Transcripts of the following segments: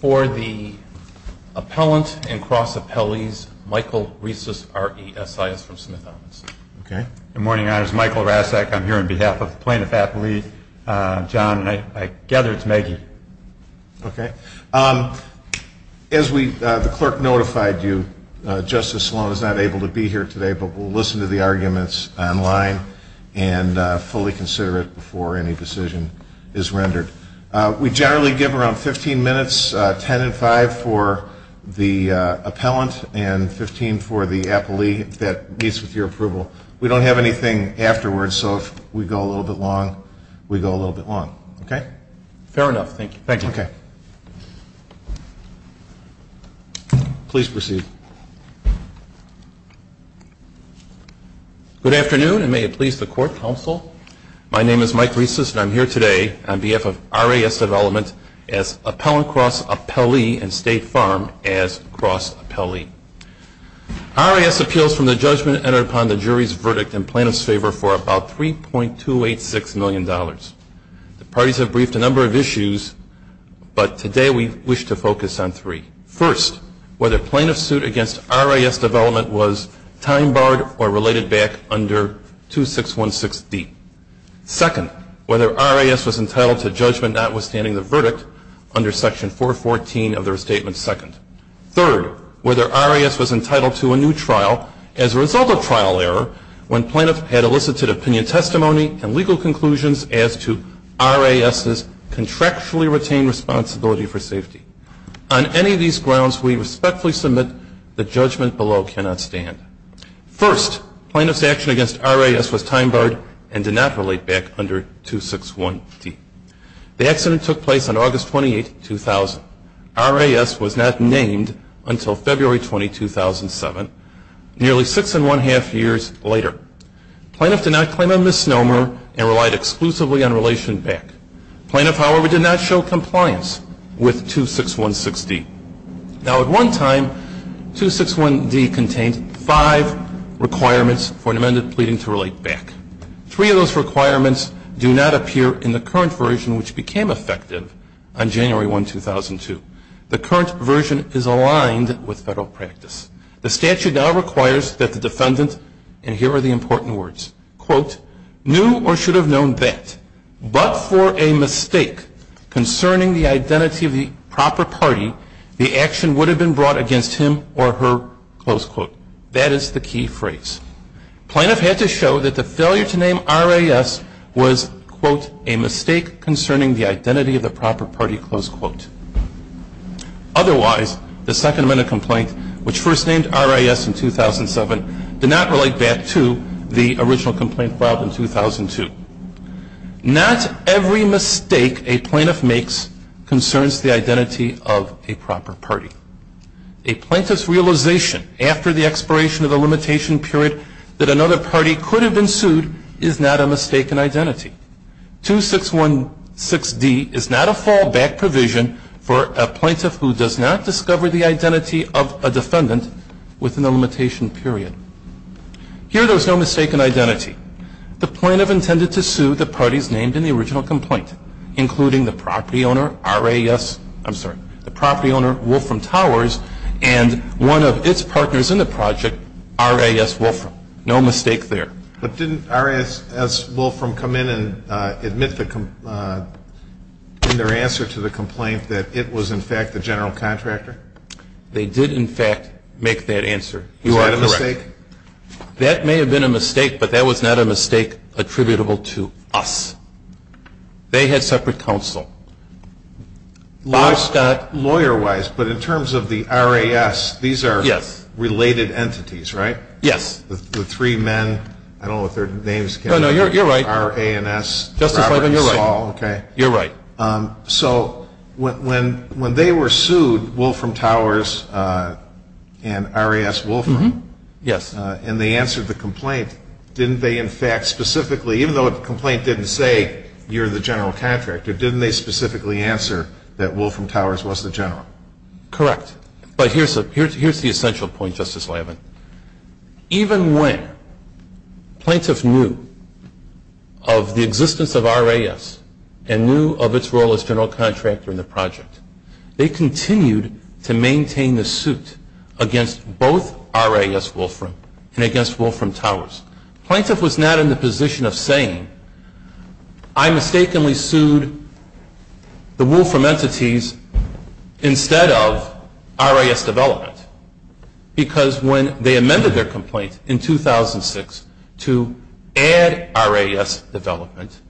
For the Appellant and Cross-Appellees, Michael Riesis, R.E.S.I.S., from Smith-Owens. Good morning, Your Honors. Michael Rassak, I'm here on behalf of the plaintiff's athlete, John, and I gather it's Maggie. Okay. As the clerk notified you, Justice Sloan is not able to be here today, but we'll listen to the arguments online and fully consider it before any decision is rendered. We generally give around 15 minutes, 10 and 5 for the appellant and 15 for the appellee that meets with your approval. We don't have anything afterwards, so if we go a little bit long, we go a little bit long. Okay? Fair enough. Thank you. Thank you. Okay. Please proceed. Good afternoon, and may it please the Court, Counsel. My name is Mike Riesis, and I'm here today on behalf of R.A.S. Development as Appellant, Cross-Appellee, and State Farm as Cross-Appellee. R.A.S. appeals from the judgment entered upon the jury's verdict in plaintiff's favor for about $3.286 million. The parties have briefed a number of issues, but today we wish to focus on three. First, whether plaintiff's suit against R.A.S. Development was time-barred or related back under 2616D. Second, whether R.A.S. was entitled to judgment notwithstanding the verdict under Section 414 of the Restatement Second. Third, whether R.A.S. was entitled to a new trial as a result of trial error when R.A.S.'s contractually retained responsibility for safety. On any of these grounds, we respectfully submit the judgment below cannot stand. First, plaintiff's action against R.A.S. was time-barred and did not relate back under 2616. The accident took place on August 28, 2000. R.A.S. was not named until February 20, 2007, nearly six and one-half years later. Plaintiff did not claim a misnomer and relied exclusively on relation back. Plaintiff, however, did not show compliance with 2616D. Now, at one time, 2616D contained five requirements for an amended pleading to relate back. Three of those requirements do not appear in the current version, which became effective on January 1, 2002. The current version is aligned with federal practice. The statute now requires that the defendant, and here are the important words, quote, knew or should have known that, but for a mistake concerning the identity of the proper party, the action would have been brought against him or her, close quote. That is the key phrase. Plaintiff had to show that the failure to name R.A.S. was, quote, a mistake concerning the identity of the proper party, close quote. Otherwise, the Second Amendment complaint, which first named R.A.S. in 2007, did not relate back to the original complaint filed in 2002. Not every mistake a plaintiff makes concerns the identity of a proper party. A plaintiff's realization after the expiration of the limitation period that another party could have been sued is not a mistaken identity. 2616D is not a fallback provision for a plaintiff who does not discover the identity of a defendant within the limitation period. Here there is no mistaken identity. The plaintiff intended to sue the parties named in the original complaint, including the property owner, R.A.S. I'm sorry, the property owner, Wolfram Towers, and one of its partners in the project, R.A.S. Wolfram. No mistake there. But didn't R.A.S. Wolfram come in and admit in their answer to the complaint that it was, in fact, the general contractor? They did, in fact, make that answer. Is that a mistake? That may have been a mistake, but that was not a mistake attributable to us. They had separate counsel. Lawyer-wise, but in terms of the R.A.S., these are related entities, right? Yes. The three men, I don't know what their names came from. No, no, you're right. R.A.N.S., Robert and Saul. Justice Levin, you're right. Okay. You're right. So when they were sued, Wolfram Towers and R.A.S. Wolfram. Yes. And they answered the complaint, didn't they, in fact, specifically, even though the complaint didn't say you're the general contractor, didn't they specifically answer that Wolfram Towers was the general? Correct. But here's the essential point, Justice Levin. Even when plaintiffs knew of the existence of R.A.S. and knew of its role as general contractor in the project, they continued to maintain the suit against both R.A.S. Wolfram and against Wolfram Towers. Plaintiff was not in the position of saying, I mistakenly sued the Wolfram entities instead of R.A.S. development because when they amended their complaint in 2006 to add R.A.S. development,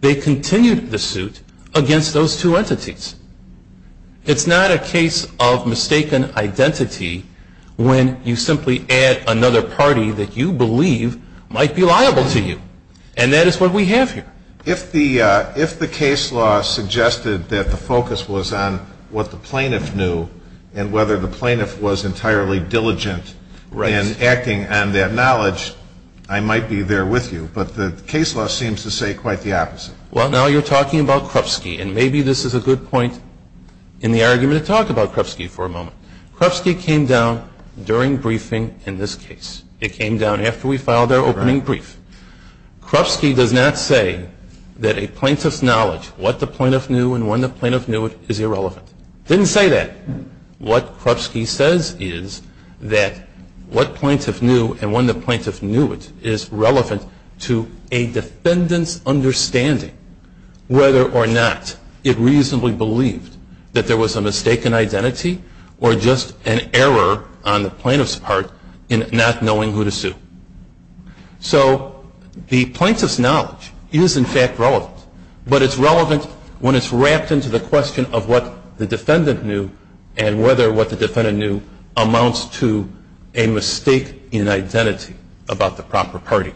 they continued the suit against those two entities. It's not a case of mistaken identity when you simply add another party that you believe might be liable to you, and that is what we have here. If the case law suggested that the focus was on what the plaintiff knew and whether the plaintiff was entirely diligent in acting on that knowledge, I might be there with you, but the case law seems to say quite the opposite. Well, now you're talking about Krupski, and maybe this is a good point in the argument to talk about Krupski for a moment. Krupski came down during briefing in this case. It came down after we filed our opening brief. Krupski does not say that a plaintiff's knowledge, what the plaintiff knew and when the plaintiff knew it, is irrelevant. It didn't say that. What Krupski says is that what plaintiff knew and when the plaintiff knew it is relevant to a defendant's understanding whether or not it reasonably believed that there was a mistaken identity or just an error on the plaintiff's part in not knowing who to sue. So the plaintiff's knowledge is, in fact, relevant, but it's relevant when it's wrapped into the question of what the defendant knew and whether what the defendant knew amounts to a mistake in identity about the proper party.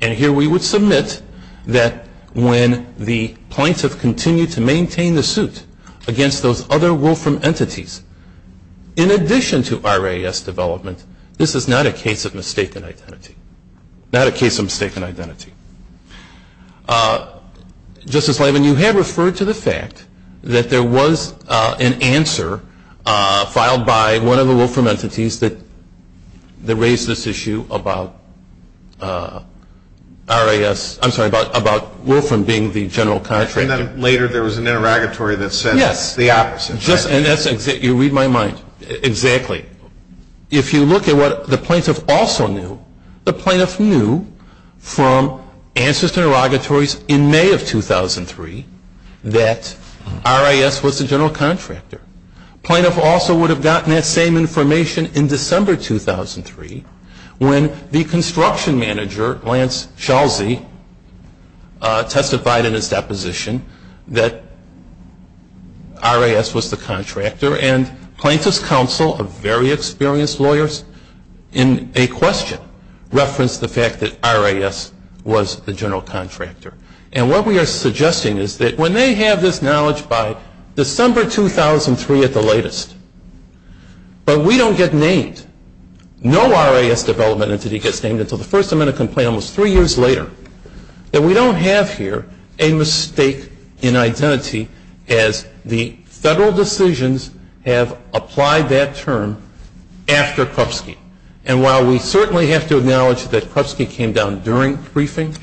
And here we would submit that when the plaintiff continued to maintain the suit against those other Wolfram entities, in addition to RAS development, this is not a case of mistaken identity, not a case of mistaken identity. Justice Levin, you have referred to the fact that there was an answer filed by one of the Wolfram entities that raised this issue about RAS, I'm sorry, about Wolfram being the general contractor. And then later there was an interrogatory that said the opposite. Yes. And that's exactly, you read my mind, exactly. If you look at what the plaintiff also knew, the plaintiff knew from answers to interrogatories in May of 2003 that RAS was the general contractor. The plaintiff also would have gotten that same information in December 2003 when the construction manager, Lance Chalsey, testified in his deposition that RAS was the contractor and plaintiff's counsel, a very experienced lawyer, in a question referenced the fact that RAS was the general contractor. And what we are suggesting is that when they have this knowledge by December 2003 at the latest, but we don't get named, no RAS development entity gets named until the First Amendment complaint almost three years later, that we don't have here a mistake in identity as the federal decisions have applied that term after Krupski. And while we certainly have to acknowledge that Krupski came down during briefing,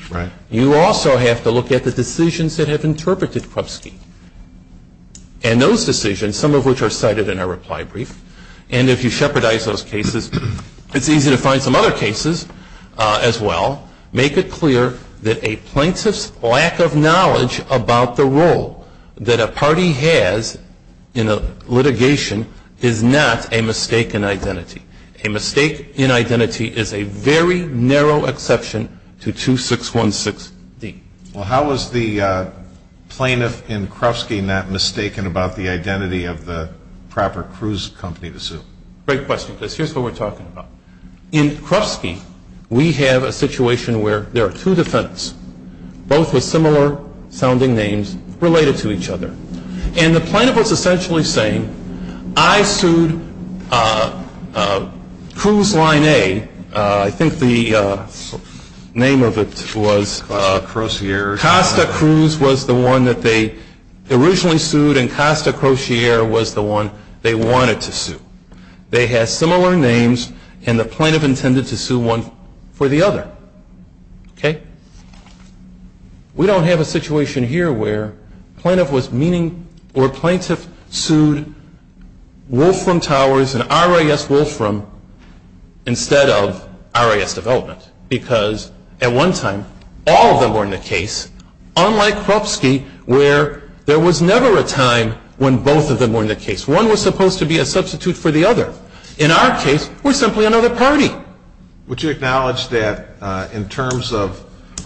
you also have to look at the decisions that have interpreted Krupski. And those decisions, some of which are cited in our reply brief, and if you shepherdize those cases, it's easy to find some other cases as well, make it clear that a plaintiff's lack of knowledge about the role that a party has in a litigation is not a mistake in identity. A mistake in identity is a very narrow exception to 2616D. Well, how is the plaintiff in Krupski not mistaken about the identity of the proper cruise company to sue? Great question, Chris. Here's what we're talking about. In Krupski, we have a situation where there are two defendants, both with similar sounding names, related to each other. And the plaintiff was essentially saying, I sued Cruise Line A. I think the name of it was Costa Cruise was the one that they originally sued and Costa Crochier was the one they wanted to sue. They had similar names and the plaintiff intended to sue one for the other. We don't have a situation here where plaintiff sued Wolfram Towers and RAS Wolfram instead of RAS Development. Because at one time, all of them were in the case, unlike Krupski, where there was never a time when both of them were in the case. One was supposed to be a substitute for the other. In our case, we're simply another party. Would you acknowledge that in terms of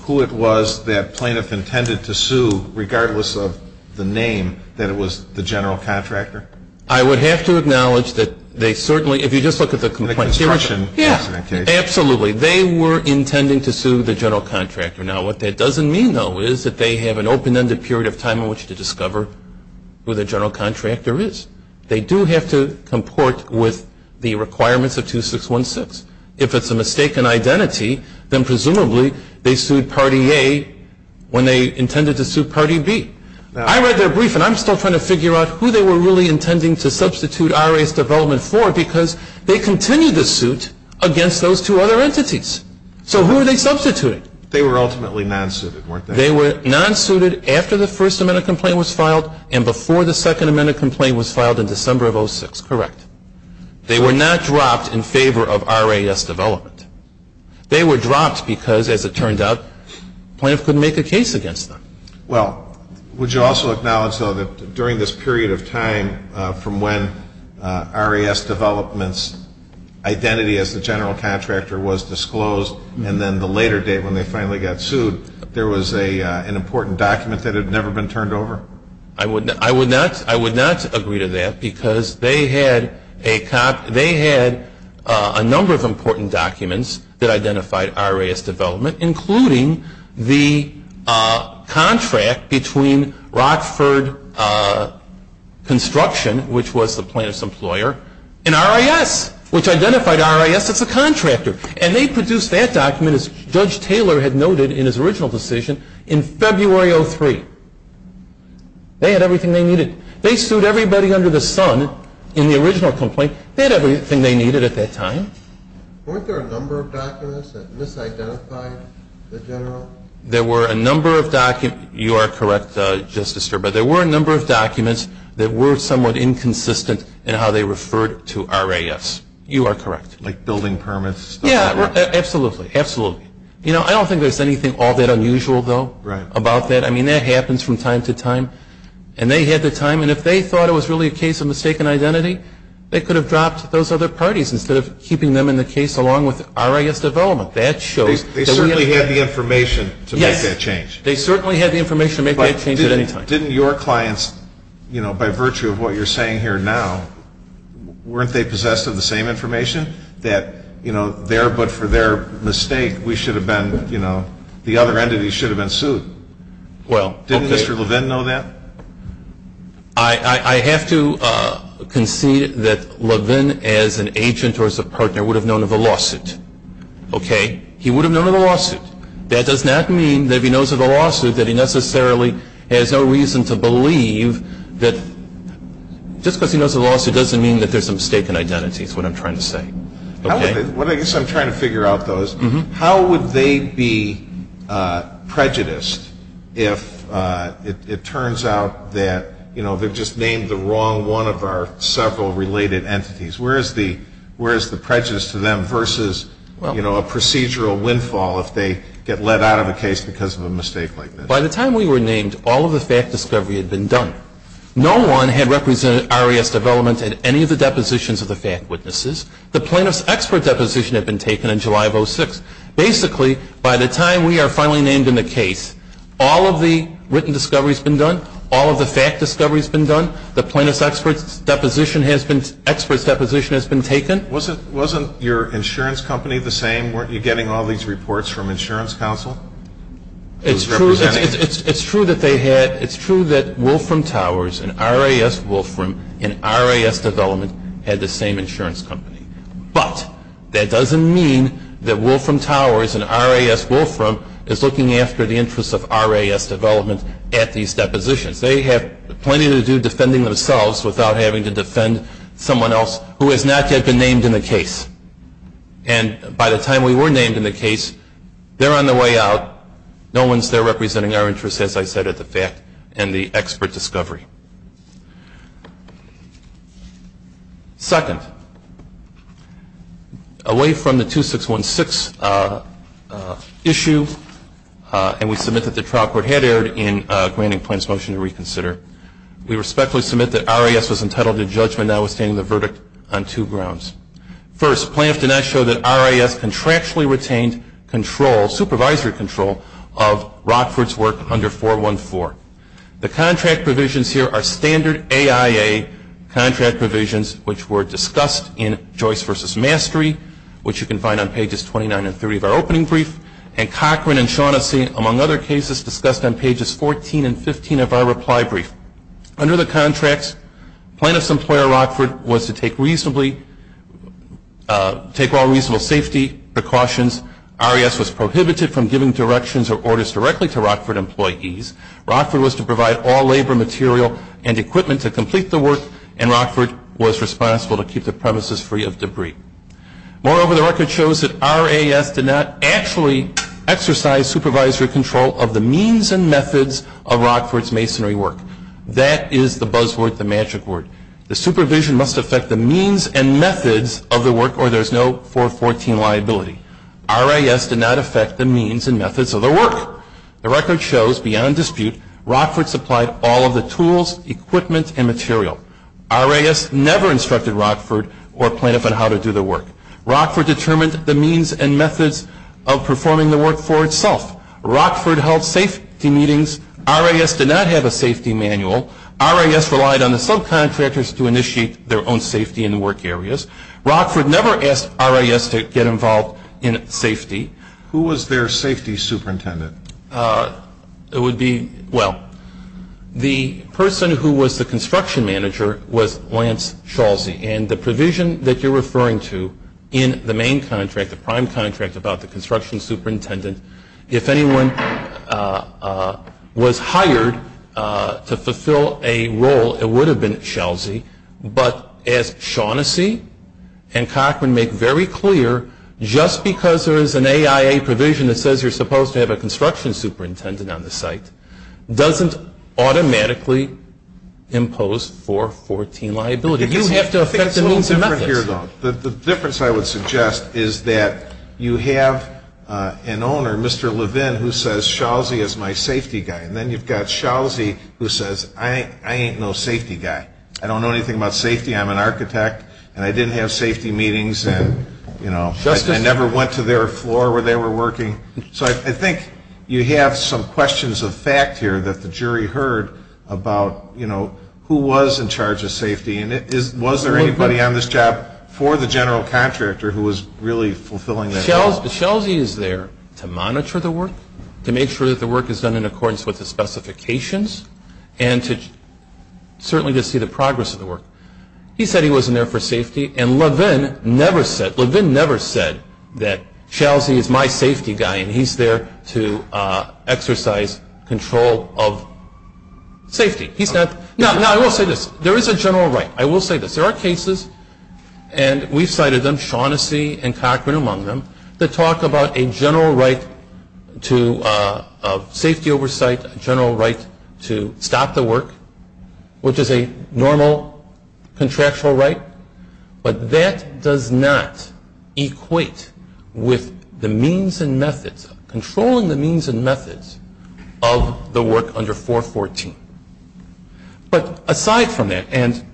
who it was that plaintiff intended to sue, regardless of the name, that it was the general contractor? I would have to acknowledge that they certainly, if you just look at the complaint. The construction incident case. Absolutely. They were intending to sue the general contractor. Now, what that doesn't mean, though, is that they have an open-ended period of time in which to discover who the general contractor is. They do have to comport with the requirements of 2616. If it's a mistaken identity, then presumably they sued Party A when they intended to sue Party B. I read their brief and I'm still trying to figure out who they were really intending to substitute RAS Development for because they continued to suit against those two other entities. So who were they substituting? They were ultimately non-suited, weren't they? They were non-suited after the First Amendment complaint was filed and before the Second Amendment complaint was filed in December of 06. Correct. They were not dropped in favor of RAS Development. They were dropped because, as it turned out, the plaintiff couldn't make a case against them. Well, would you also acknowledge, though, that during this period of time from when RAS Development's identity as the general contractor was disclosed and then the later date when they finally got sued, there was an important document that had never been turned over? I would not agree to that because they had a number of important documents that identified RAS Development, including the contract between Rockford Construction, which was the plaintiff's employer, and RAS, which identified RAS as the contractor. And they produced that document, as Judge Taylor had noted in his original decision, in February of 03. They had everything they needed. They sued everybody under the sun in the original complaint. They had everything they needed at that time. Weren't there a number of documents that misidentified the general? There were a number of documents. You are correct, Justice Sterber. There were a number of documents that were somewhat inconsistent in how they referred to RAS. You are correct. Like building permits? Yeah, absolutely, absolutely. You know, I don't think there's anything all that unusual, though, about that. I mean, that happens from time to time. And they had the time. And if they thought it was really a case of mistaken identity, they could have dropped those other parties instead of keeping them in the case along with RAS Development. They certainly had the information to make that change. Yes. They certainly had the information to make that change at any time. But didn't your clients, you know, by virtue of what you're saying here now, weren't they possessed of the same information that, you know, there but for their mistake, we should have been, you know, the other entity should have been sued? Well, okay. Didn't Mr. Levin know that? I have to concede that Levin as an agent or as a partner would have known of the lawsuit. Okay? He would have known of the lawsuit. That does not mean that if he knows of the lawsuit that he necessarily has no reason to believe that just because he knows of the lawsuit doesn't mean that there's a mistake in identity is what I'm trying to say. Okay? I guess I'm trying to figure out those. How would they be prejudiced if it turns out that, you know, they've just named the wrong one of our several related entities? Where is the prejudice to them versus, you know, a procedural windfall if they get let out of a case because of a mistake like this? By the time we were named, all of the fact discovery had been done. No one had represented RAS Development at any of the depositions of the fact witnesses. The plaintiff's expert deposition had been taken in July of 2006. Basically, by the time we are finally named in the case, all of the written discovery has been done. All of the fact discovery has been done. The plaintiff's expert's deposition has been taken. Wasn't your insurance company the same? Weren't you getting all these reports from Insurance Council? It's true that they had. It's true that Wolfram Towers and RAS Wolfram and RAS Development had the same insurance company. But that doesn't mean that Wolfram Towers and RAS Wolfram is looking after the interests of RAS Development at these depositions. They have plenty to do defending themselves without having to defend someone else who has not yet been named in the case. And by the time we were named in the case, they're on their way out. No one's there representing our interests, as I said, at the fact and the expert discovery. Second, away from the 2616 issue, and we submit that the trial court had erred in granting plans motion to reconsider, we respectfully submit that RAS was entitled to judgment now withstanding the verdict on two grounds. First, plaintiffs did not show that RAS contractually retained control, supervisory control, of Rockford's work under 414. The contract provisions here are standard AIA contract provisions, which were discussed in Joyce v. Mastery, which you can find on pages 29 and 30 of our opening brief, and Cochran and Shaughnessy, among other cases, discussed on pages 14 and 15 of our reply brief. Under the contracts, plaintiff's employer, Rockford, was to take all reasonable safety precautions. RAS was prohibited from giving directions or orders directly to Rockford employees. Rockford was to provide all labor, material, and equipment to complete the work, and Rockford was responsible to keep the premises free of debris. Moreover, the record shows that RAS did not actually exercise supervisory control of the means and methods of Rockford's masonry work. That is the buzzword, the magic word. The supervision must affect the means and methods of the work, or there's no 414 liability. RAS did not affect the means and methods of the work. The record shows, beyond dispute, Rockford supplied all of the tools, equipment, and material. RAS never instructed Rockford or plaintiff on how to do the work. Rockford determined the means and methods of performing the work for itself. Rockford held safety meetings. RAS did not have a safety manual. RAS relied on the subcontractors to initiate their own safety in the work areas. Rockford never asked RAS to get involved in safety. Who was their safety superintendent? It would be, well, the person who was the construction manager was Lance Schalze, and the provision that you're referring to in the main contract, the prime contract, about the construction superintendent, if anyone was hired to fulfill a role, it would have been Schalze, but as Shaughnessy and Cochran make very clear, just because there is an AIA provision that says you're supposed to have a construction superintendent on the site doesn't automatically impose 414 liability. You have to affect the means and methods. The difference I would suggest is that you have an owner, Mr. Levin, who says Schalze is my safety guy, and then you've got Schalze who says I ain't no safety guy. I don't know anything about safety. I'm an architect, and I didn't have safety meetings, and, you know, I never went to their floor where they were working. So I think you have some questions of fact here that the jury heard about, you know, who was in charge of safety, and was there anybody on this job for the general contractor who was really fulfilling that role? Schalze is there to monitor the work, to make sure that the work is done in accordance with the specifications, and certainly to see the progress of the work. He said he wasn't there for safety, and Levin never said that Schalze is my safety guy, and he's there to exercise control of safety. Now, I will say this. There is a general right. I will say this. There are cases, and we've cited them, Shaughnessy and Cochran among them, that talk about a general right to safety oversight, a general right to stop the work, which is a normal contractual right, but that does not equate with the means and methods, of the work under 414. But aside from that, and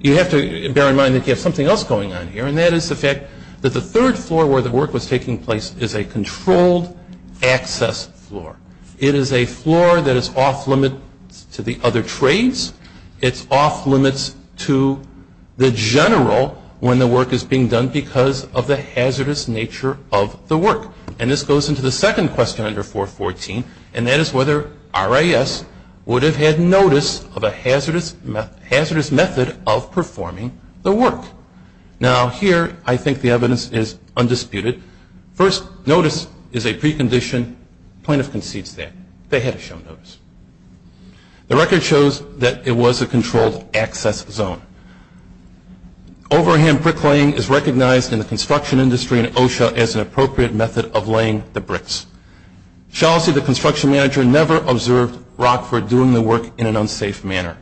you have to bear in mind that you have something else going on here, and that is the fact that the third floor where the work was taking place is a controlled access floor. It is a floor that is off limits to the other trades. It's off limits to the general when the work is being done because of the hazardous nature of the work. And this goes into the second question under 414, and that is whether RIS would have had notice of a hazardous method of performing the work. Now, here I think the evidence is undisputed. First notice is a precondition. The plaintiff concedes that they had shown notice. The record shows that it was a controlled access zone. Overhand bricklaying is recognized in the construction industry and OSHA as an appropriate method of laying the bricks. Chelsea, the construction manager, never observed Rockford doing the work in an unsafe manner.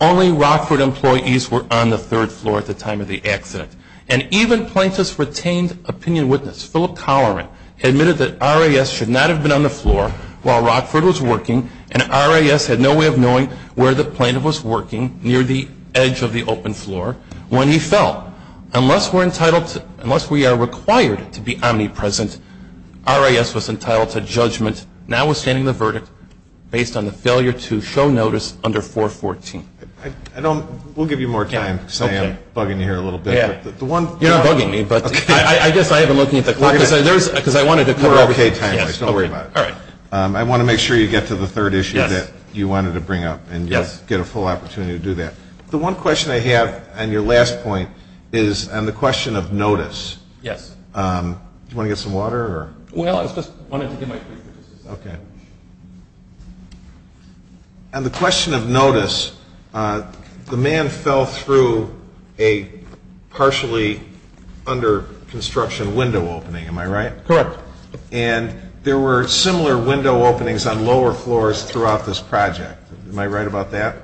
Only Rockford employees were on the third floor at the time of the accident, and even plaintiffs retained opinion with this. Philip Colloran admitted that RIS should not have been on the floor while Rockford was working, and RIS had no way of knowing where the plaintiff was working near the edge of the open floor when he fell. Unless we are required to be omnipresent, RIS was entitled to judgment, notwithstanding the verdict, based on the failure to show notice under 414. We'll give you more time because I am bugging you here a little bit. You're not bugging me, but I guess I have been looking at the clock because I wanted to cover everything. We're okay timely. Don't worry about it. All right. I want to make sure you get to the third issue that you wanted to bring up and get a full opportunity to do that. The one question I have on your last point is on the question of notice. Yes. Do you want to get some water? Well, I just wanted to get my drink. Okay. On the question of notice, the man fell through a partially under construction window opening. Am I right? Correct. And there were similar window openings on lower floors throughout this project. Am I right about that?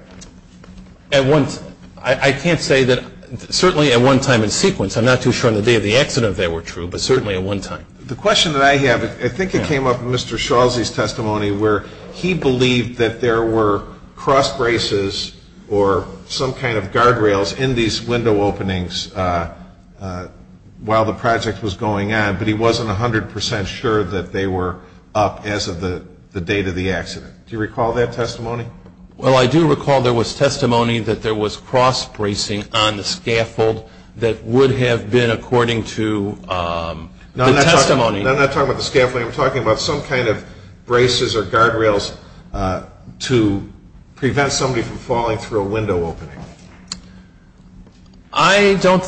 I can't say that certainly at one time in sequence. I'm not too sure on the day of the accident if they were true, but certainly at one time. The question that I have, I think it came up in Mr. Schalze's testimony, where he believed that there were cross braces or some kind of guardrails in these window openings while the project was going on, but he wasn't 100% sure that they were up as of the date of the accident. Do you recall that testimony? Well, I do recall there was testimony that there was cross bracing on the scaffold that would have been according to the testimony. I'm not talking about the scaffolding. I'm talking about some kind of braces or guardrails to prevent somebody from falling through a window opening. I don't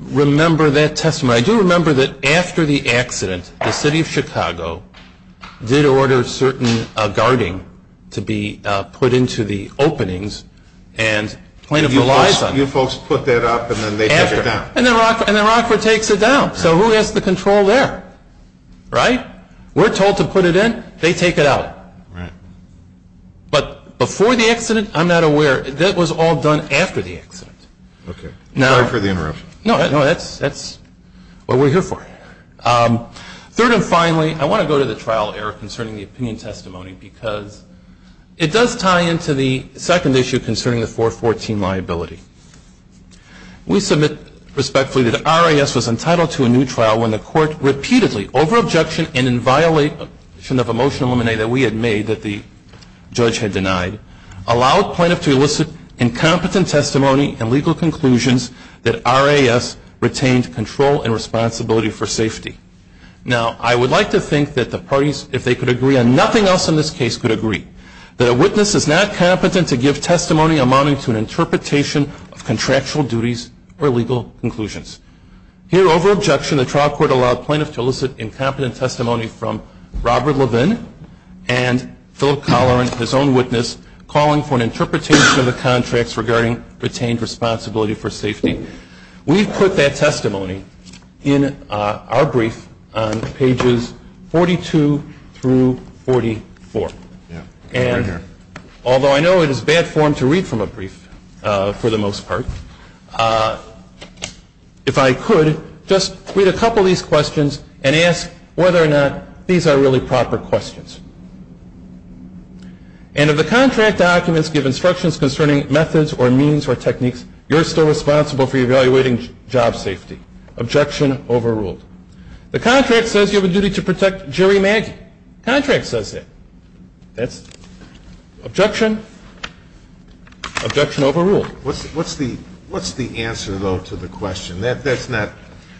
remember that testimony. I do remember that after the accident, the city of Chicago did order certain guarding to be put into the openings and plaintiff relies on it. You folks put that up and then they take it down? After. And then Rockford takes it down. So who has the control there? Right? We're told to put it in. They take it out. Right. But before the accident, I'm not aware. That was all done after the accident. Okay. Sorry for the interruption. No, that's what we're here for. Third and finally, I want to go to the trial error concerning the opinion testimony because it does tie into the second issue concerning the 414 liability. We submit respectfully that RAS was entitled to a new trial when the court repeatedly, over objection and in violation of a motion of limine that we had made that the judge had denied, allowed plaintiff to elicit incompetent testimony and legal conclusions that RAS retained control and responsibility for safety. Now, I would like to think that the parties, if they could agree, and nothing else in this case could agree, that a witness is not competent to give testimony amounting to an interpretation of contractual duties or legal conclusions. Here, over objection, the trial court allowed plaintiff to elicit incompetent testimony from Robert Levin and Philip Colloran, his own witness, calling for an interpretation of the contracts regarding retained responsibility for safety. We put that testimony in our brief on pages 42 through 44. And although I know it is bad form to read from a brief, for the most part, if I could, just read a couple of these questions and ask whether or not these are really proper questions. And if the contract documents give instructions concerning methods or means or techniques, you're still responsible for evaluating job safety. Objection overruled. The contract says you have a duty to protect Jerry Maggie. The contract says that. That's objection. Objection overruled. What's the answer, though, to the question? That's not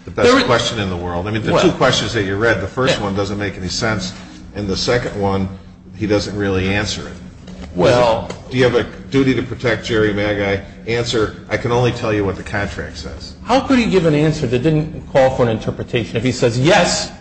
the best question in the world. I mean, the two questions that you read, the first one doesn't make any sense, and the second one, he doesn't really answer it. Do you have a duty to protect Jerry Maggie? Answer, I can only tell you what the contract says. How could he give an answer that didn't call for an interpretation? If he says yes,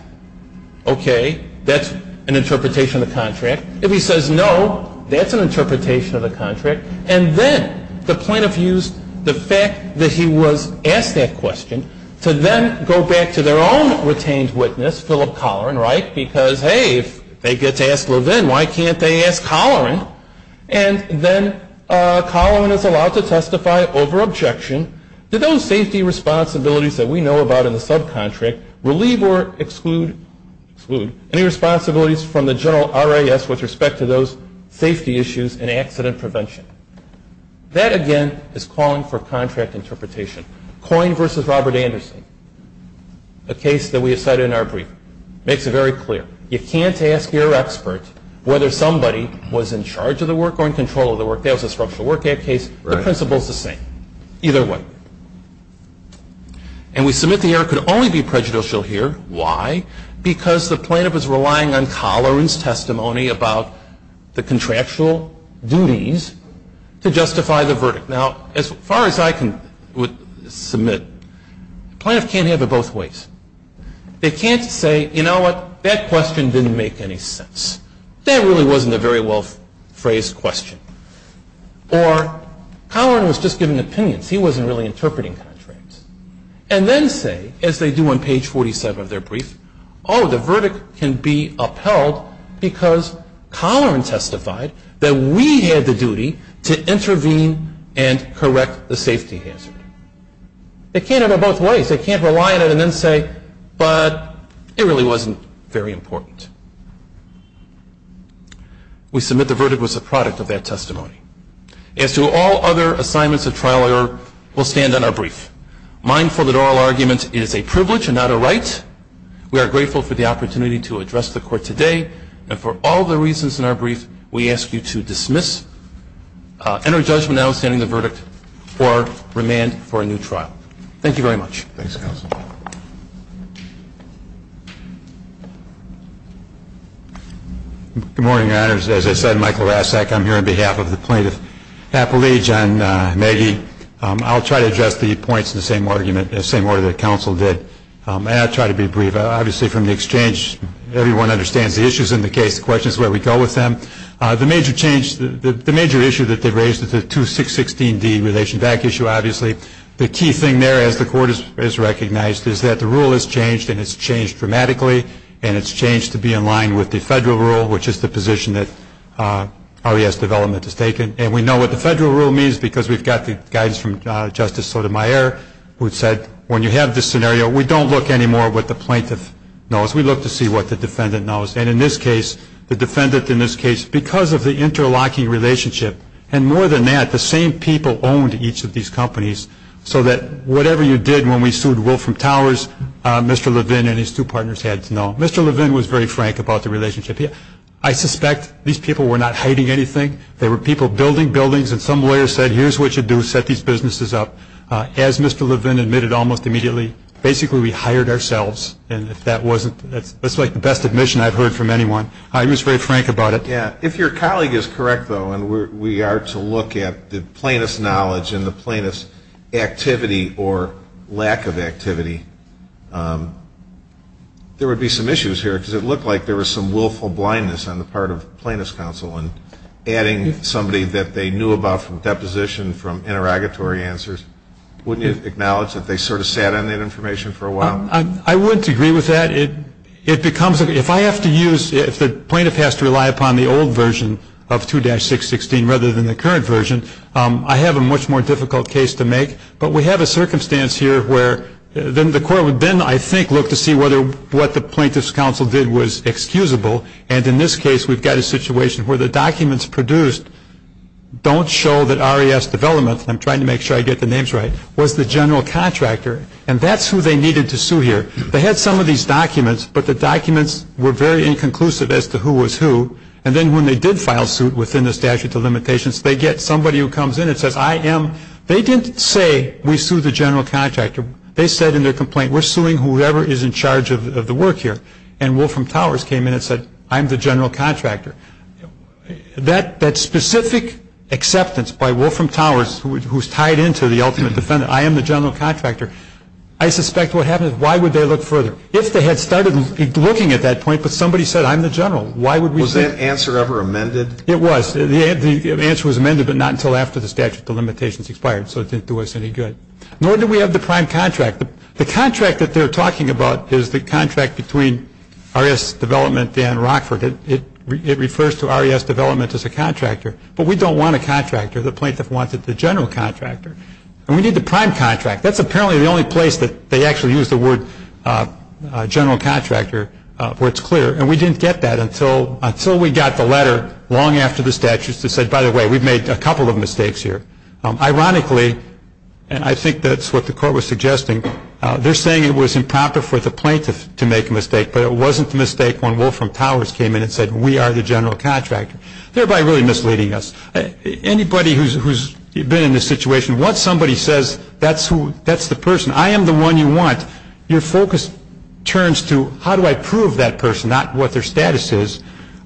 okay, that's an interpretation of the contract. If he says no, that's an interpretation of the contract. And then the plaintiff used the fact that he was asked that question to then go back to their own retained witness, Philip Colloran, right, because, hey, if they get to ask Levin, why can't they ask Colloran? And then Colloran is allowed to testify over objection. Do those safety responsibilities that we know about in the subcontract relieve or exclude any responsibilities from the general RIS with respect to those safety issues and accident prevention? That, again, is calling for contract interpretation. Coyne v. Robert Anderson, a case that we have cited in our brief, makes it very clear. You can't ask your expert whether somebody was in charge of the work or in control of the work. That was a Structural Work Act case. The principle is the same. Either way. And we submit the error could only be prejudicial here. Why? Because the plaintiff is relying on Colloran's testimony about the contractual duties to justify the verdict. Now, as far as I can submit, the plaintiff can't have it both ways. They can't say, you know what, that question didn't make any sense. That really wasn't a very well phrased question. Or Colloran was just giving opinions. He wasn't really interpreting contracts. And then say, as they do on page 47 of their brief, oh, the verdict can be upheld because Colloran testified that we had the duty to intervene and correct the safety hazard. They can't have it both ways. They can't rely on it and then say, but it really wasn't very important. We submit the verdict was a product of that testimony. As to all other assignments of trial error, we'll stand on our brief. Mindful that oral argument is a privilege and not a right. We are grateful for the opportunity to address the Court today. And for all the reasons in our brief, we ask you to dismiss, enter judgment notwithstanding the verdict, or remand for a new trial. Thank you very much. Thanks, counsel. Good morning, Your Honors. As I said, Michael Rasek. I'm here on behalf of the plaintiff's appellee, John Maggie. I'll try to address the points in the same order that counsel did. And I'll try to be brief. Obviously, from the exchange, everyone understands the issues in the case. The question is where we go with them. The major issue that they raised is the 2616D relation back issue, obviously. The key thing there, as the Court has recognized, is that the rule has changed, and it's changed dramatically, and it's changed to be in line with the federal rule, which is the position that OES development has taken. And we know what the federal rule means because we've got the guidance from Justice Sotomayor, who said when you have this scenario, we don't look anymore at what the plaintiff knows. We look to see what the defendant knows. And in this case, the defendant in this case, because of the interlocking relationship, and more than that, the same people owned each of these companies, so that whatever you did when we sued Wolfram Towers, Mr. Levin and his two partners had to know. Mr. Levin was very frank about the relationship. I suspect these people were not hiding anything. They were people building buildings, and some lawyer said, here's what you do. Set these businesses up. As Mr. Levin admitted almost immediately, basically we hired ourselves. And if that wasn't the best admission I've heard from anyone, he was very frank about it. Yeah. If your colleague is correct, though, and we are to look at the plaintiff's knowledge and the plaintiff's activity or lack of activity, there would be some issues here, because it looked like there was some willful blindness on the part of plaintiff's counsel in adding somebody that they knew about from deposition, from interrogatory answers. Wouldn't you acknowledge that they sort of sat on that information for a while? I wouldn't agree with that. It becomes, if I have to use, if the plaintiff has to rely upon the old version of 2-616 rather than the current version, I have a much more difficult case to make. But we have a circumstance here where the court would then, I think, look to see whether what the plaintiff's counsel did was excusable. And in this case, we've got a situation where the documents produced don't show that RES development, and I'm trying to make sure I get the names right, was the general contractor. And that's who they needed to sue here. They had some of these documents, but the documents were very inconclusive as to who was who. And then when they did file suit within the statute of limitations, they get somebody who comes in and says, I am, they didn't say, we sue the general contractor. They said in their complaint, we're suing whoever is in charge of the work here. And Wolfram Towers came in and said, I'm the general contractor. That specific acceptance by Wolfram Towers, who is tied into the ultimate defendant, I am the general contractor, I suspect what happened is, why would they look further? If they had started looking at that point, but somebody said, I'm the general, why would we sue? Was that answer ever amended? It was. The answer was amended, but not until after the statute of limitations expired, so it didn't do us any good. Nor do we have the prime contract. The contract that they're talking about is the contract between RES development and Rockford. It refers to RES development as a contractor. But we don't want a contractor. The plaintiff wanted the general contractor. And we need the prime contract. That's apparently the only place that they actually use the word general contractor where it's clear. And we didn't get that until we got the letter long after the statute that said, by the way, we've made a couple of mistakes here. Ironically, and I think that's what the court was suggesting, they're saying it was improper for the plaintiff to make a mistake, but it wasn't the mistake when Wolfram Towers came in and said, we are the general contractor, thereby really misleading us. Anybody who's been in this situation, once somebody says, that's the person, I am the one you want, your focus turns to how do I prove that person, not what their status is.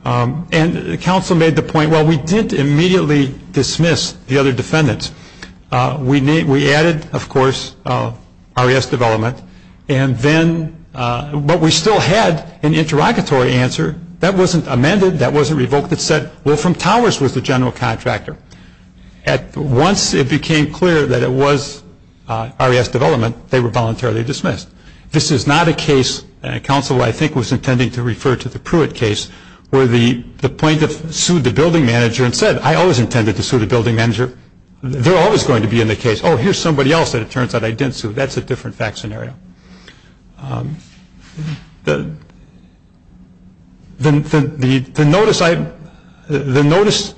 And counsel made the point, well, we didn't immediately dismiss the other defendants. We added, of course, RES development. And then, but we still had an interrogatory answer. That wasn't amended. That wasn't revoked. It said Wolfram Towers was the general contractor. Once it became clear that it was RES development, they were voluntarily dismissed. This is not a case, and counsel, I think, was intending to refer to the Pruitt case, where the plaintiff sued the building manager and said, I always intended to sue the building manager. They're always going to be in the case, oh, here's somebody else that it turns out I didn't sue. That's a different fact scenario. The notice,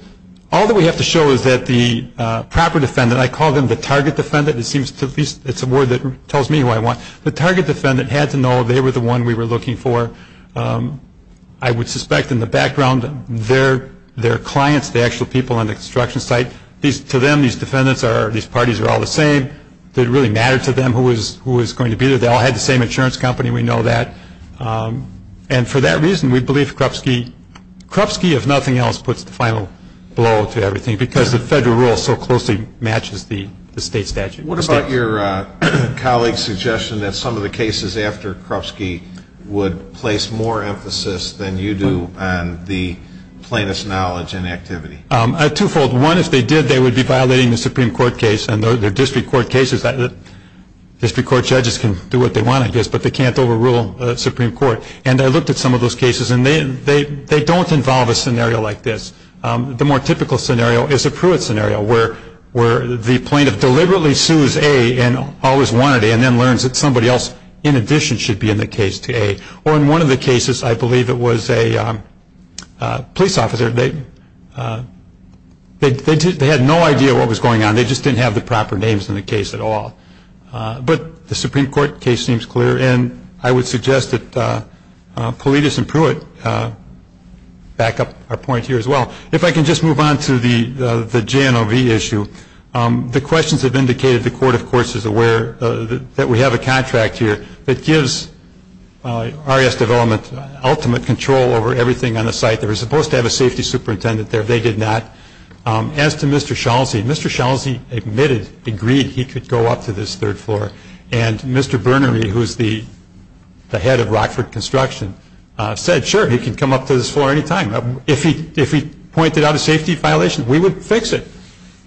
all that we have to show is that the proper defendant, I call them the target defendant. It's a word that tells me who I want. The target defendant had to know they were the one we were looking for. I would suspect in the background, their clients, the actual people on the construction site, to them, these defendants, these parties are all the same. Did it really matter to them who was going to be there? They all had the same insurance company. We know that. And for that reason, we believe Krupski, if nothing else, puts the final blow to everything, because the federal rule so closely matches the state statute. What about your colleague's suggestion that some of the cases after Krupski would place more emphasis than you do on the plaintiff's knowledge and activity? A twofold. One, if they did, they would be violating the Supreme Court case. And the district court cases, district court judges can do what they want, I guess, but they can't overrule the Supreme Court. And I looked at some of those cases, and they don't involve a scenario like this. The more typical scenario is a Pruitt scenario, where the plaintiff deliberately sues A and always wanted A, and then learns that somebody else, in addition, should be in the case to A. Or in one of the cases, I believe it was a police officer. They had no idea what was going on. They just didn't have the proper names in the case at all. But the Supreme Court case seems clear, and I would suggest that Paulides and Pruitt back up our point here as well. If I can just move on to the JNOV issue. The questions have indicated the court, of course, is aware that we have a contract here that gives RES development ultimate control over everything on the site. They were supposed to have a safety superintendent there. They did not. As to Mr. Schalze, Mr. Schalze admitted, agreed he could go up to this third floor. And Mr. Burnery, who is the head of Rockford Construction, said, sure, he can come up to this floor any time. If he pointed out a safety violation, we would fix it.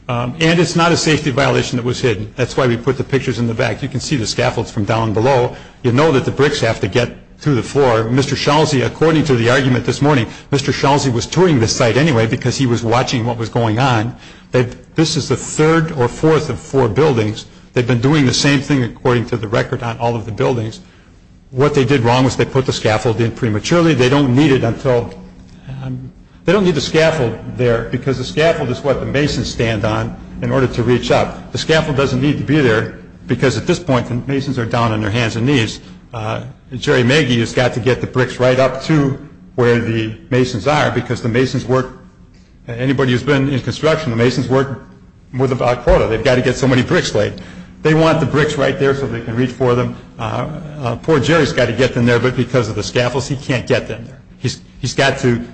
And it's not a safety violation that was hidden. That's why we put the pictures in the back. You can see the scaffolds from down below. You know that the bricks have to get to the floor. Mr. Schalze, according to the argument this morning, Mr. Schalze was touring the site anyway because he was watching what was going on. This is the third or fourth of four buildings. They've been doing the same thing, according to the record, on all of the buildings. What they did wrong was they put the scaffold in prematurely. They don't need it until – they don't need the scaffold there because the scaffold is what the masons stand on in order to reach up. The scaffold doesn't need to be there because at this point the masons are down on their hands and knees. Jerry Magee has got to get the bricks right up to where the masons are because the masons work – anybody who's been in construction, the masons work with a quota. They've got to get so many bricks laid. They want the bricks right there so they can reach for them. Poor Jerry's got to get them there, but because of the scaffolds, he can't get them there. He's got to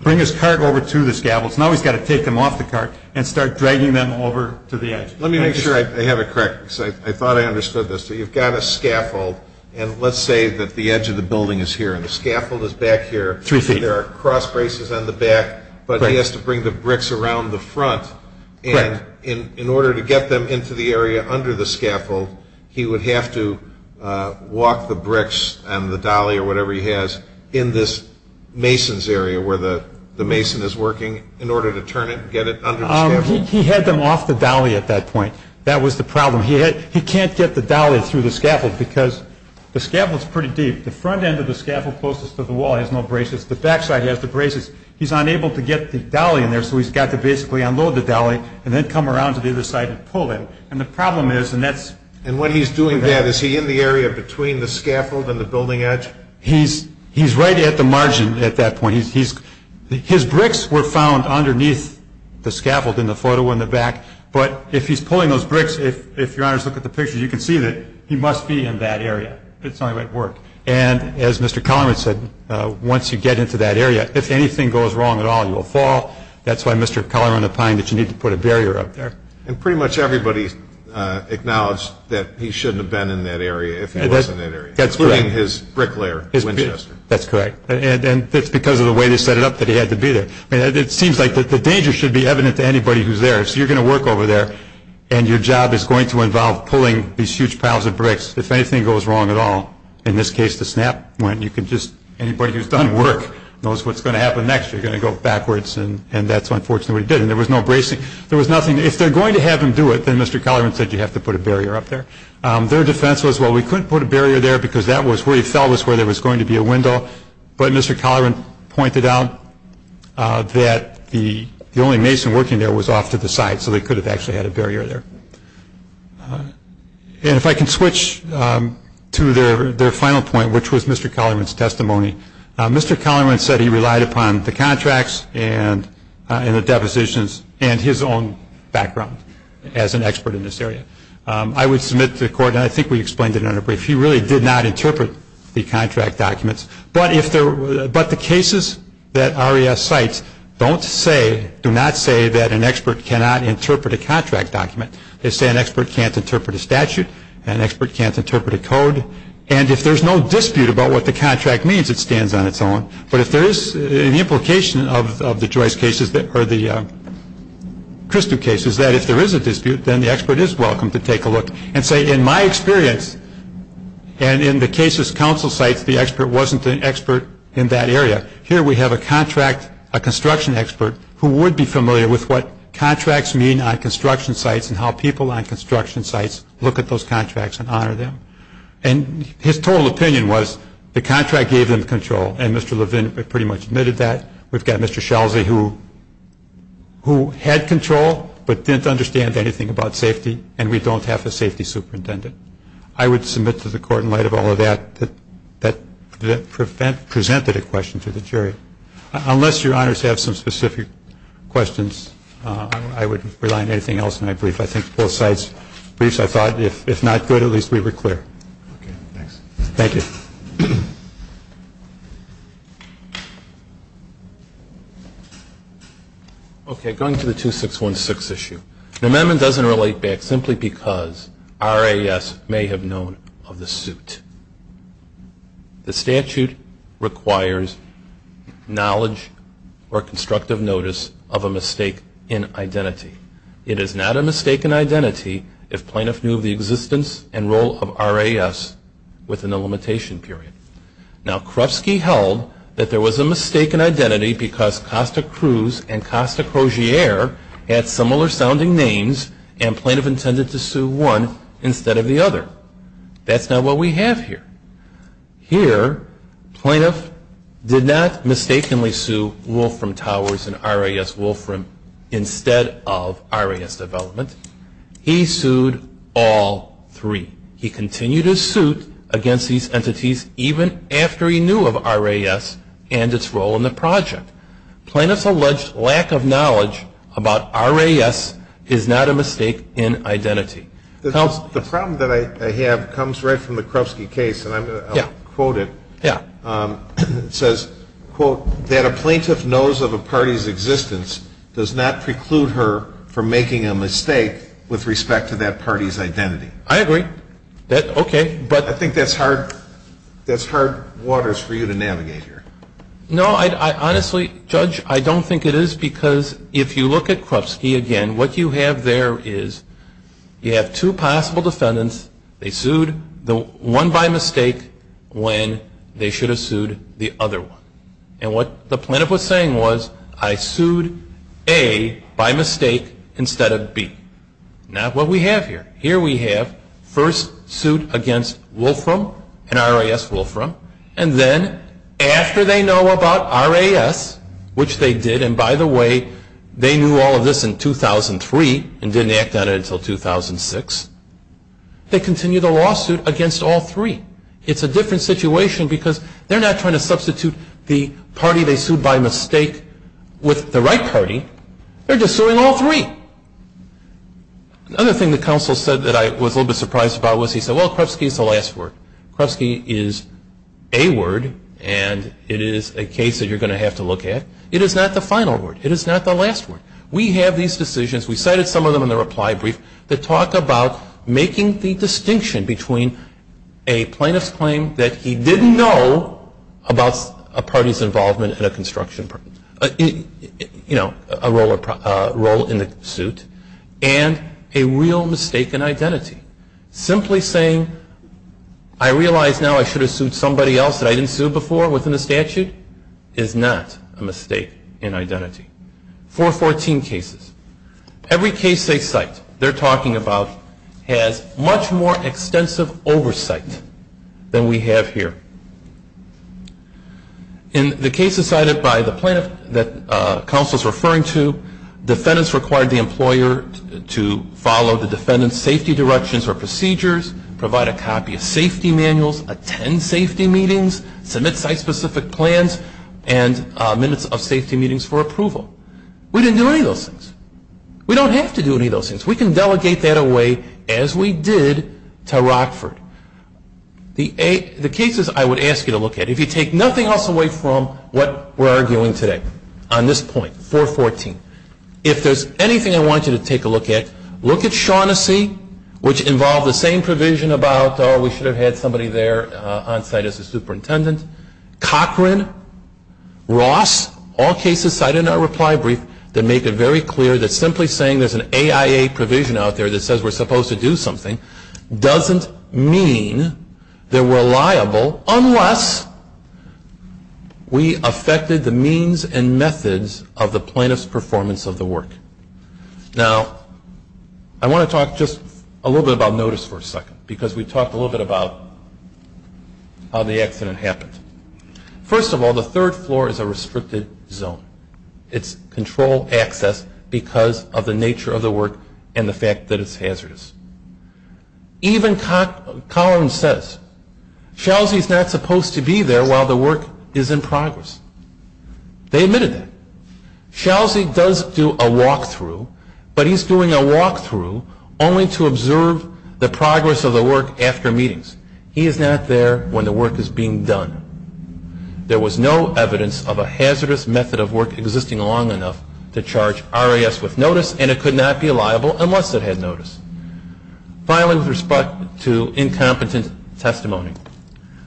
bring his cart over to the scaffolds. Now he's got to take them off the cart and start dragging them over to the edge. Let me make sure I have it correct because I thought I understood this. So you've got a scaffold, and let's say that the edge of the building is here and the scaffold is back here. Three feet. There are cross braces on the back, but he has to bring the bricks around the front. Correct. And in order to get them into the area under the scaffold, he would have to walk the bricks and the dolly or whatever he has in this mason's area where the mason is working in order to turn it and get it under the scaffold. He had them off the dolly at that point. That was the problem. He can't get the dolly through the scaffold because the scaffold's pretty deep. The front end of the scaffold closest to the wall has no braces. The back side has the braces. He's unable to get the dolly in there, so he's got to basically unload the dolly and then come around to the other side and pull it. And the problem is, and that's... And when he's doing that, is he in the area between the scaffold and the building edge? He's right at the margin at that point. His bricks were found underneath the scaffold in the photo in the back, but if he's pulling those bricks, if Your Honors look at the picture, you can see that he must be in that area. It's not going to work. And as Mr. Collier said, once you get into that area, if anything goes wrong at all, you will fall. That's why Mr. Collier on the fine that you need to put a barrier up there. And pretty much everybody acknowledged that he shouldn't have been in that area if he was in that area. That's correct. Including his bricklayer, Winchester. That's correct. And it's because of the way they set it up that he had to be there. It seems like the danger should be evident to anybody who's there. So you're going to work over there, and your job is going to involve pulling these huge piles of bricks. If anything goes wrong at all, in this case, the snap went. You can just, anybody who's done work knows what's going to happen next. You're going to go backwards, and that's unfortunately what he did. And there was no bracing. There was nothing. If they're going to have him do it, then Mr. Collier said you have to put a barrier up there. Their defense was, well, we couldn't put a barrier there because that was where he fell, that's where there was going to be a window. But Mr. Collier pointed out that the only mason working there was off to the side, so they could have actually had a barrier there. And if I can switch to their final point, which was Mr. Collier's testimony, Mr. Collier said he relied upon the contracts and the depositions and his own background as an expert in this area. I would submit to the court, and I think we explained it in a brief, he really did not interpret the contract documents. But the cases that RES cites don't say, do not say that an expert cannot interpret a contract document. They say an expert can't interpret a statute, an expert can't interpret a code, and if there's no dispute about what the contract means, it stands on its own. But if there is an implication of the Joyce cases or the Christou cases, that if there is a dispute, then the expert is welcome to take a look and say, in my experience, and in the cases counsel cites, the expert wasn't an expert in that area. Here we have a contract, a construction expert, who would be familiar with what contracts mean on construction sites and how people on construction sites look at those contracts and honor them. And his total opinion was the contract gave them control, and Mr. Levin pretty much admitted that. We've got Mr. Shelsey who had control, but didn't understand anything about safety, and we don't have a safety superintendent. I would submit to the court, in light of all of that, that that presented a question to the jury. Unless your honors have some specific questions, I would rely on anything else in my brief. I think both sides' briefs, I thought, if not good, at least we were clear. Okay, thanks. Thank you. Okay, going to the 2616 issue. The amendment doesn't relate back simply because RAS may have known of the suit. The statute requires knowledge or constructive notice of a mistake in identity. It is not a mistake in identity if plaintiff knew of the existence and role of RAS within the limitation period. Now Krufsky held that there was a mistake in identity because Costa Cruz and Costa Crozier had similar sounding names, and plaintiff intended to sue one instead of the other. That's not what we have here. Here plaintiff did not mistakenly sue Wolfram Towers and RAS Wolfram instead of RAS Development. He sued all three. He continued his suit against these entities even after he knew of RAS and its role in the project. Plaintiff's alleged lack of knowledge about RAS is not a mistake in identity. The problem that I have comes right from the Krufsky case, and I'm going to quote it. Yeah. It says, quote, that a plaintiff knows of a party's existence does not preclude her from making a mistake with respect to that party's identity. I agree. Okay. I think that's hard waters for you to navigate here. No, I honestly, Judge, I don't think it is because if you look at Krufsky again, what you have there is you have two possible defendants. They sued one by mistake when they should have sued the other one. And what the plaintiff was saying was I sued A by mistake instead of B. Not what we have here. Here we have first sued against Wolfram and RAS Wolfram, and then after they know about RAS, which they did, and by the way, they knew all of this in 2003 and didn't act on it until 2006, they continue the lawsuit against all three. It's a different situation because they're not trying to substitute the party they sued by mistake with the right party. They're just suing all three. Another thing the counsel said that I was a little bit surprised about was he said, well, Krufsky is the last word. Krufsky is a word, and it is a case that you're going to have to look at. It is not the final word. It is not the last word. We have these decisions, we cited some of them in the reply brief, that talk about making the distinction between a plaintiff's claim that he didn't know about a party's involvement in a construction, you know, a role in the suit, and a real mistake in identity. Simply saying, I realize now I should have sued somebody else that I didn't sue before within the statute, is not a mistake in identity. 414 cases. Every case they cite they're talking about has much more extensive oversight than we have here. In the cases cited by the plaintiff that counsel is referring to, defendants required the employer to follow the defendant's safety directions or procedures, provide a copy of safety manuals, attend safety meetings, submit site-specific plans, and minutes of safety meetings for approval. We didn't do any of those things. We don't have to do any of those things. We can delegate that away as we did to Rockford. The cases I would ask you to look at, if you take nothing else away from what we're arguing today on this point, 414, if there's anything I want you to take a look at, look at Shaughnessy, which involved the same provision about, oh, we should have had somebody there on site as a superintendent. Cochran, Ross, all cases cited in our reply brief that make it very clear that simply saying there's an AIA provision out there that says we're supposed to do something doesn't mean they're reliable unless we affected the means and methods of the plaintiff's performance of the work. Now, I want to talk just a little bit about notice for a second because we talked a little bit about how the accident happened. First of all, the third floor is a restricted zone. It's control access because of the nature of the work and the fact that it's hazardous. Even Collins says, Shaughnessy's not supposed to be there while the work is in progress. They admitted that. Shaughnessy does do a walkthrough, but he's doing a walkthrough only to observe the progress of the work after meetings. He is not there when the work is being done. There was no evidence of a hazardous method of work existing long enough to charge RAS with notice and it could not be liable unless it had notice. Finally, with respect to incompetent testimony,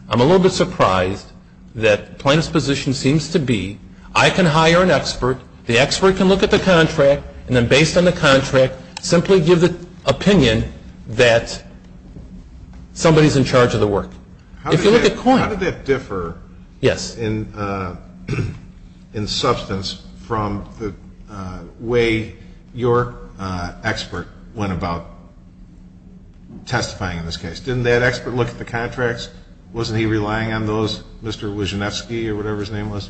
I'm a little bit surprised that the plaintiff's position seems to be I can hire an expert, the expert can look at the contract, and then based on the contract, simply give the opinion that somebody's in charge of the work. How did that differ in substance from the way your expert went about testifying in this case? Didn't that expert look at the contracts? Wasn't he relying on those, Mr. Wyszynewski or whatever his name was?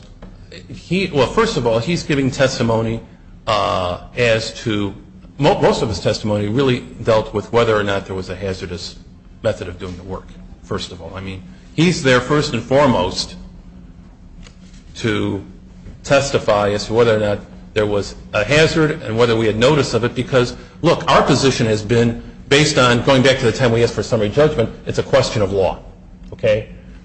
First of all, he's giving testimony as to, most of his testimony really dealt with whether or not there was a hazardous method of doing the work, first of all. I mean, he's there first and foremost to testify as to whether or not there was a hazard and whether we had notice of it because, look, our position has been based on, going back to the time we asked for summary judgment, it's a question of law.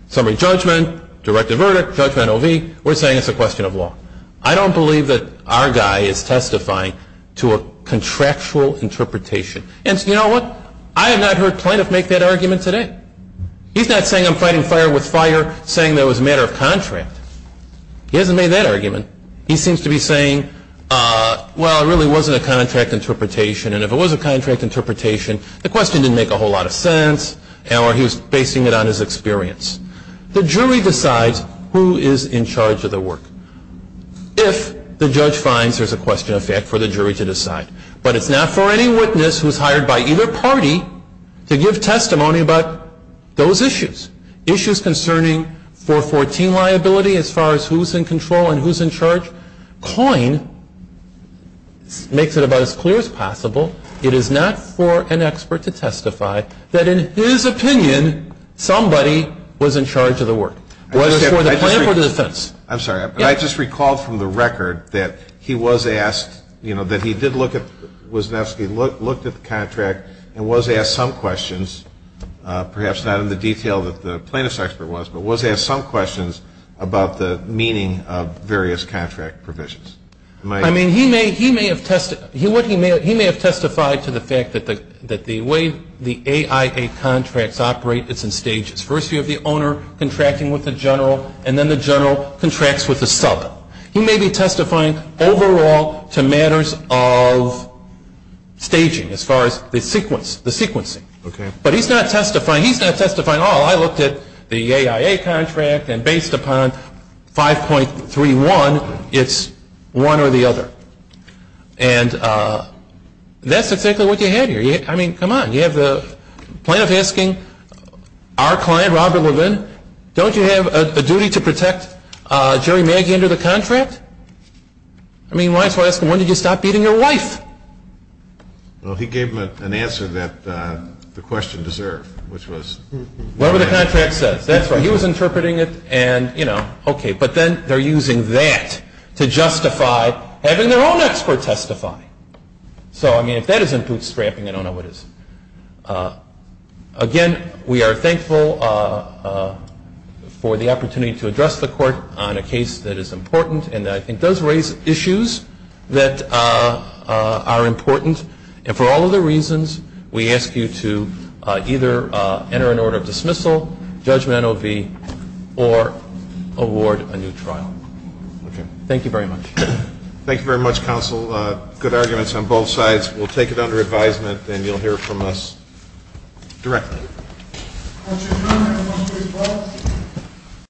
Summary judgment, direct to verdict, judgment OV, we're saying it's a question of law. I don't believe that our guy is testifying to a contractual interpretation. And you know what? I have not heard Plaintiff make that argument today. He's not saying I'm fighting fire with fire saying that it was a matter of contract. He hasn't made that argument. He seems to be saying, well, it really wasn't a contract interpretation, and if it was a contract interpretation, the question didn't make a whole lot of sense or he was basing it on his experience. The jury decides who is in charge of the work if the judge finds there's a question of fact for the jury to decide. But it's not for any witness who's hired by either party to give testimony about those issues, issues concerning 414 liability as far as who's in control and who's in charge. Coyne makes it about as clear as possible. It is not for an expert to testify that in his opinion somebody was in charge of the work, whether it's for the plaintiff or the defense. I'm sorry, but I just recalled from the record that he was asked, you know, that he did look at the contract and was asked some questions, perhaps not in the detail that the plaintiff's expert was, but was asked some questions about the meaning of various contract provisions. I mean, he may have testified to the fact that the way the AIA contracts operate, it's in stages. First you have the owner contracting with the general and then the general contracts with the sub. He may be testifying overall to matters of staging as far as the sequence, the sequencing. But he's not testifying, he's not testifying, oh, I looked at the AIA contract and based upon 5.31, it's one or the other. And that's exactly what you have here. I mean, come on, you have the plaintiff asking our client, Robert Levin, don't you have a duty to protect Jerry Maggie under the contract? I mean, why is he asking, when did you stop beating your wife? Well, he gave an answer that the question deserved, which was. Whatever the contract says, that's right. He was interpreting it and, you know, okay. But then they're using that to justify having their own expert testify. So, I mean, if that isn't bootstrapping, I don't know what is. Again, we are thankful for the opportunity to address the Court on a case that is important and that I think does raise issues that are important. And for all of the reasons, we ask you to either enter an order of dismissal, judgment OV, or award a new trial. Thank you very much. Thank you very much, Counsel. Good arguments on both sides. We'll take it under advisement, and you'll hear from us directly.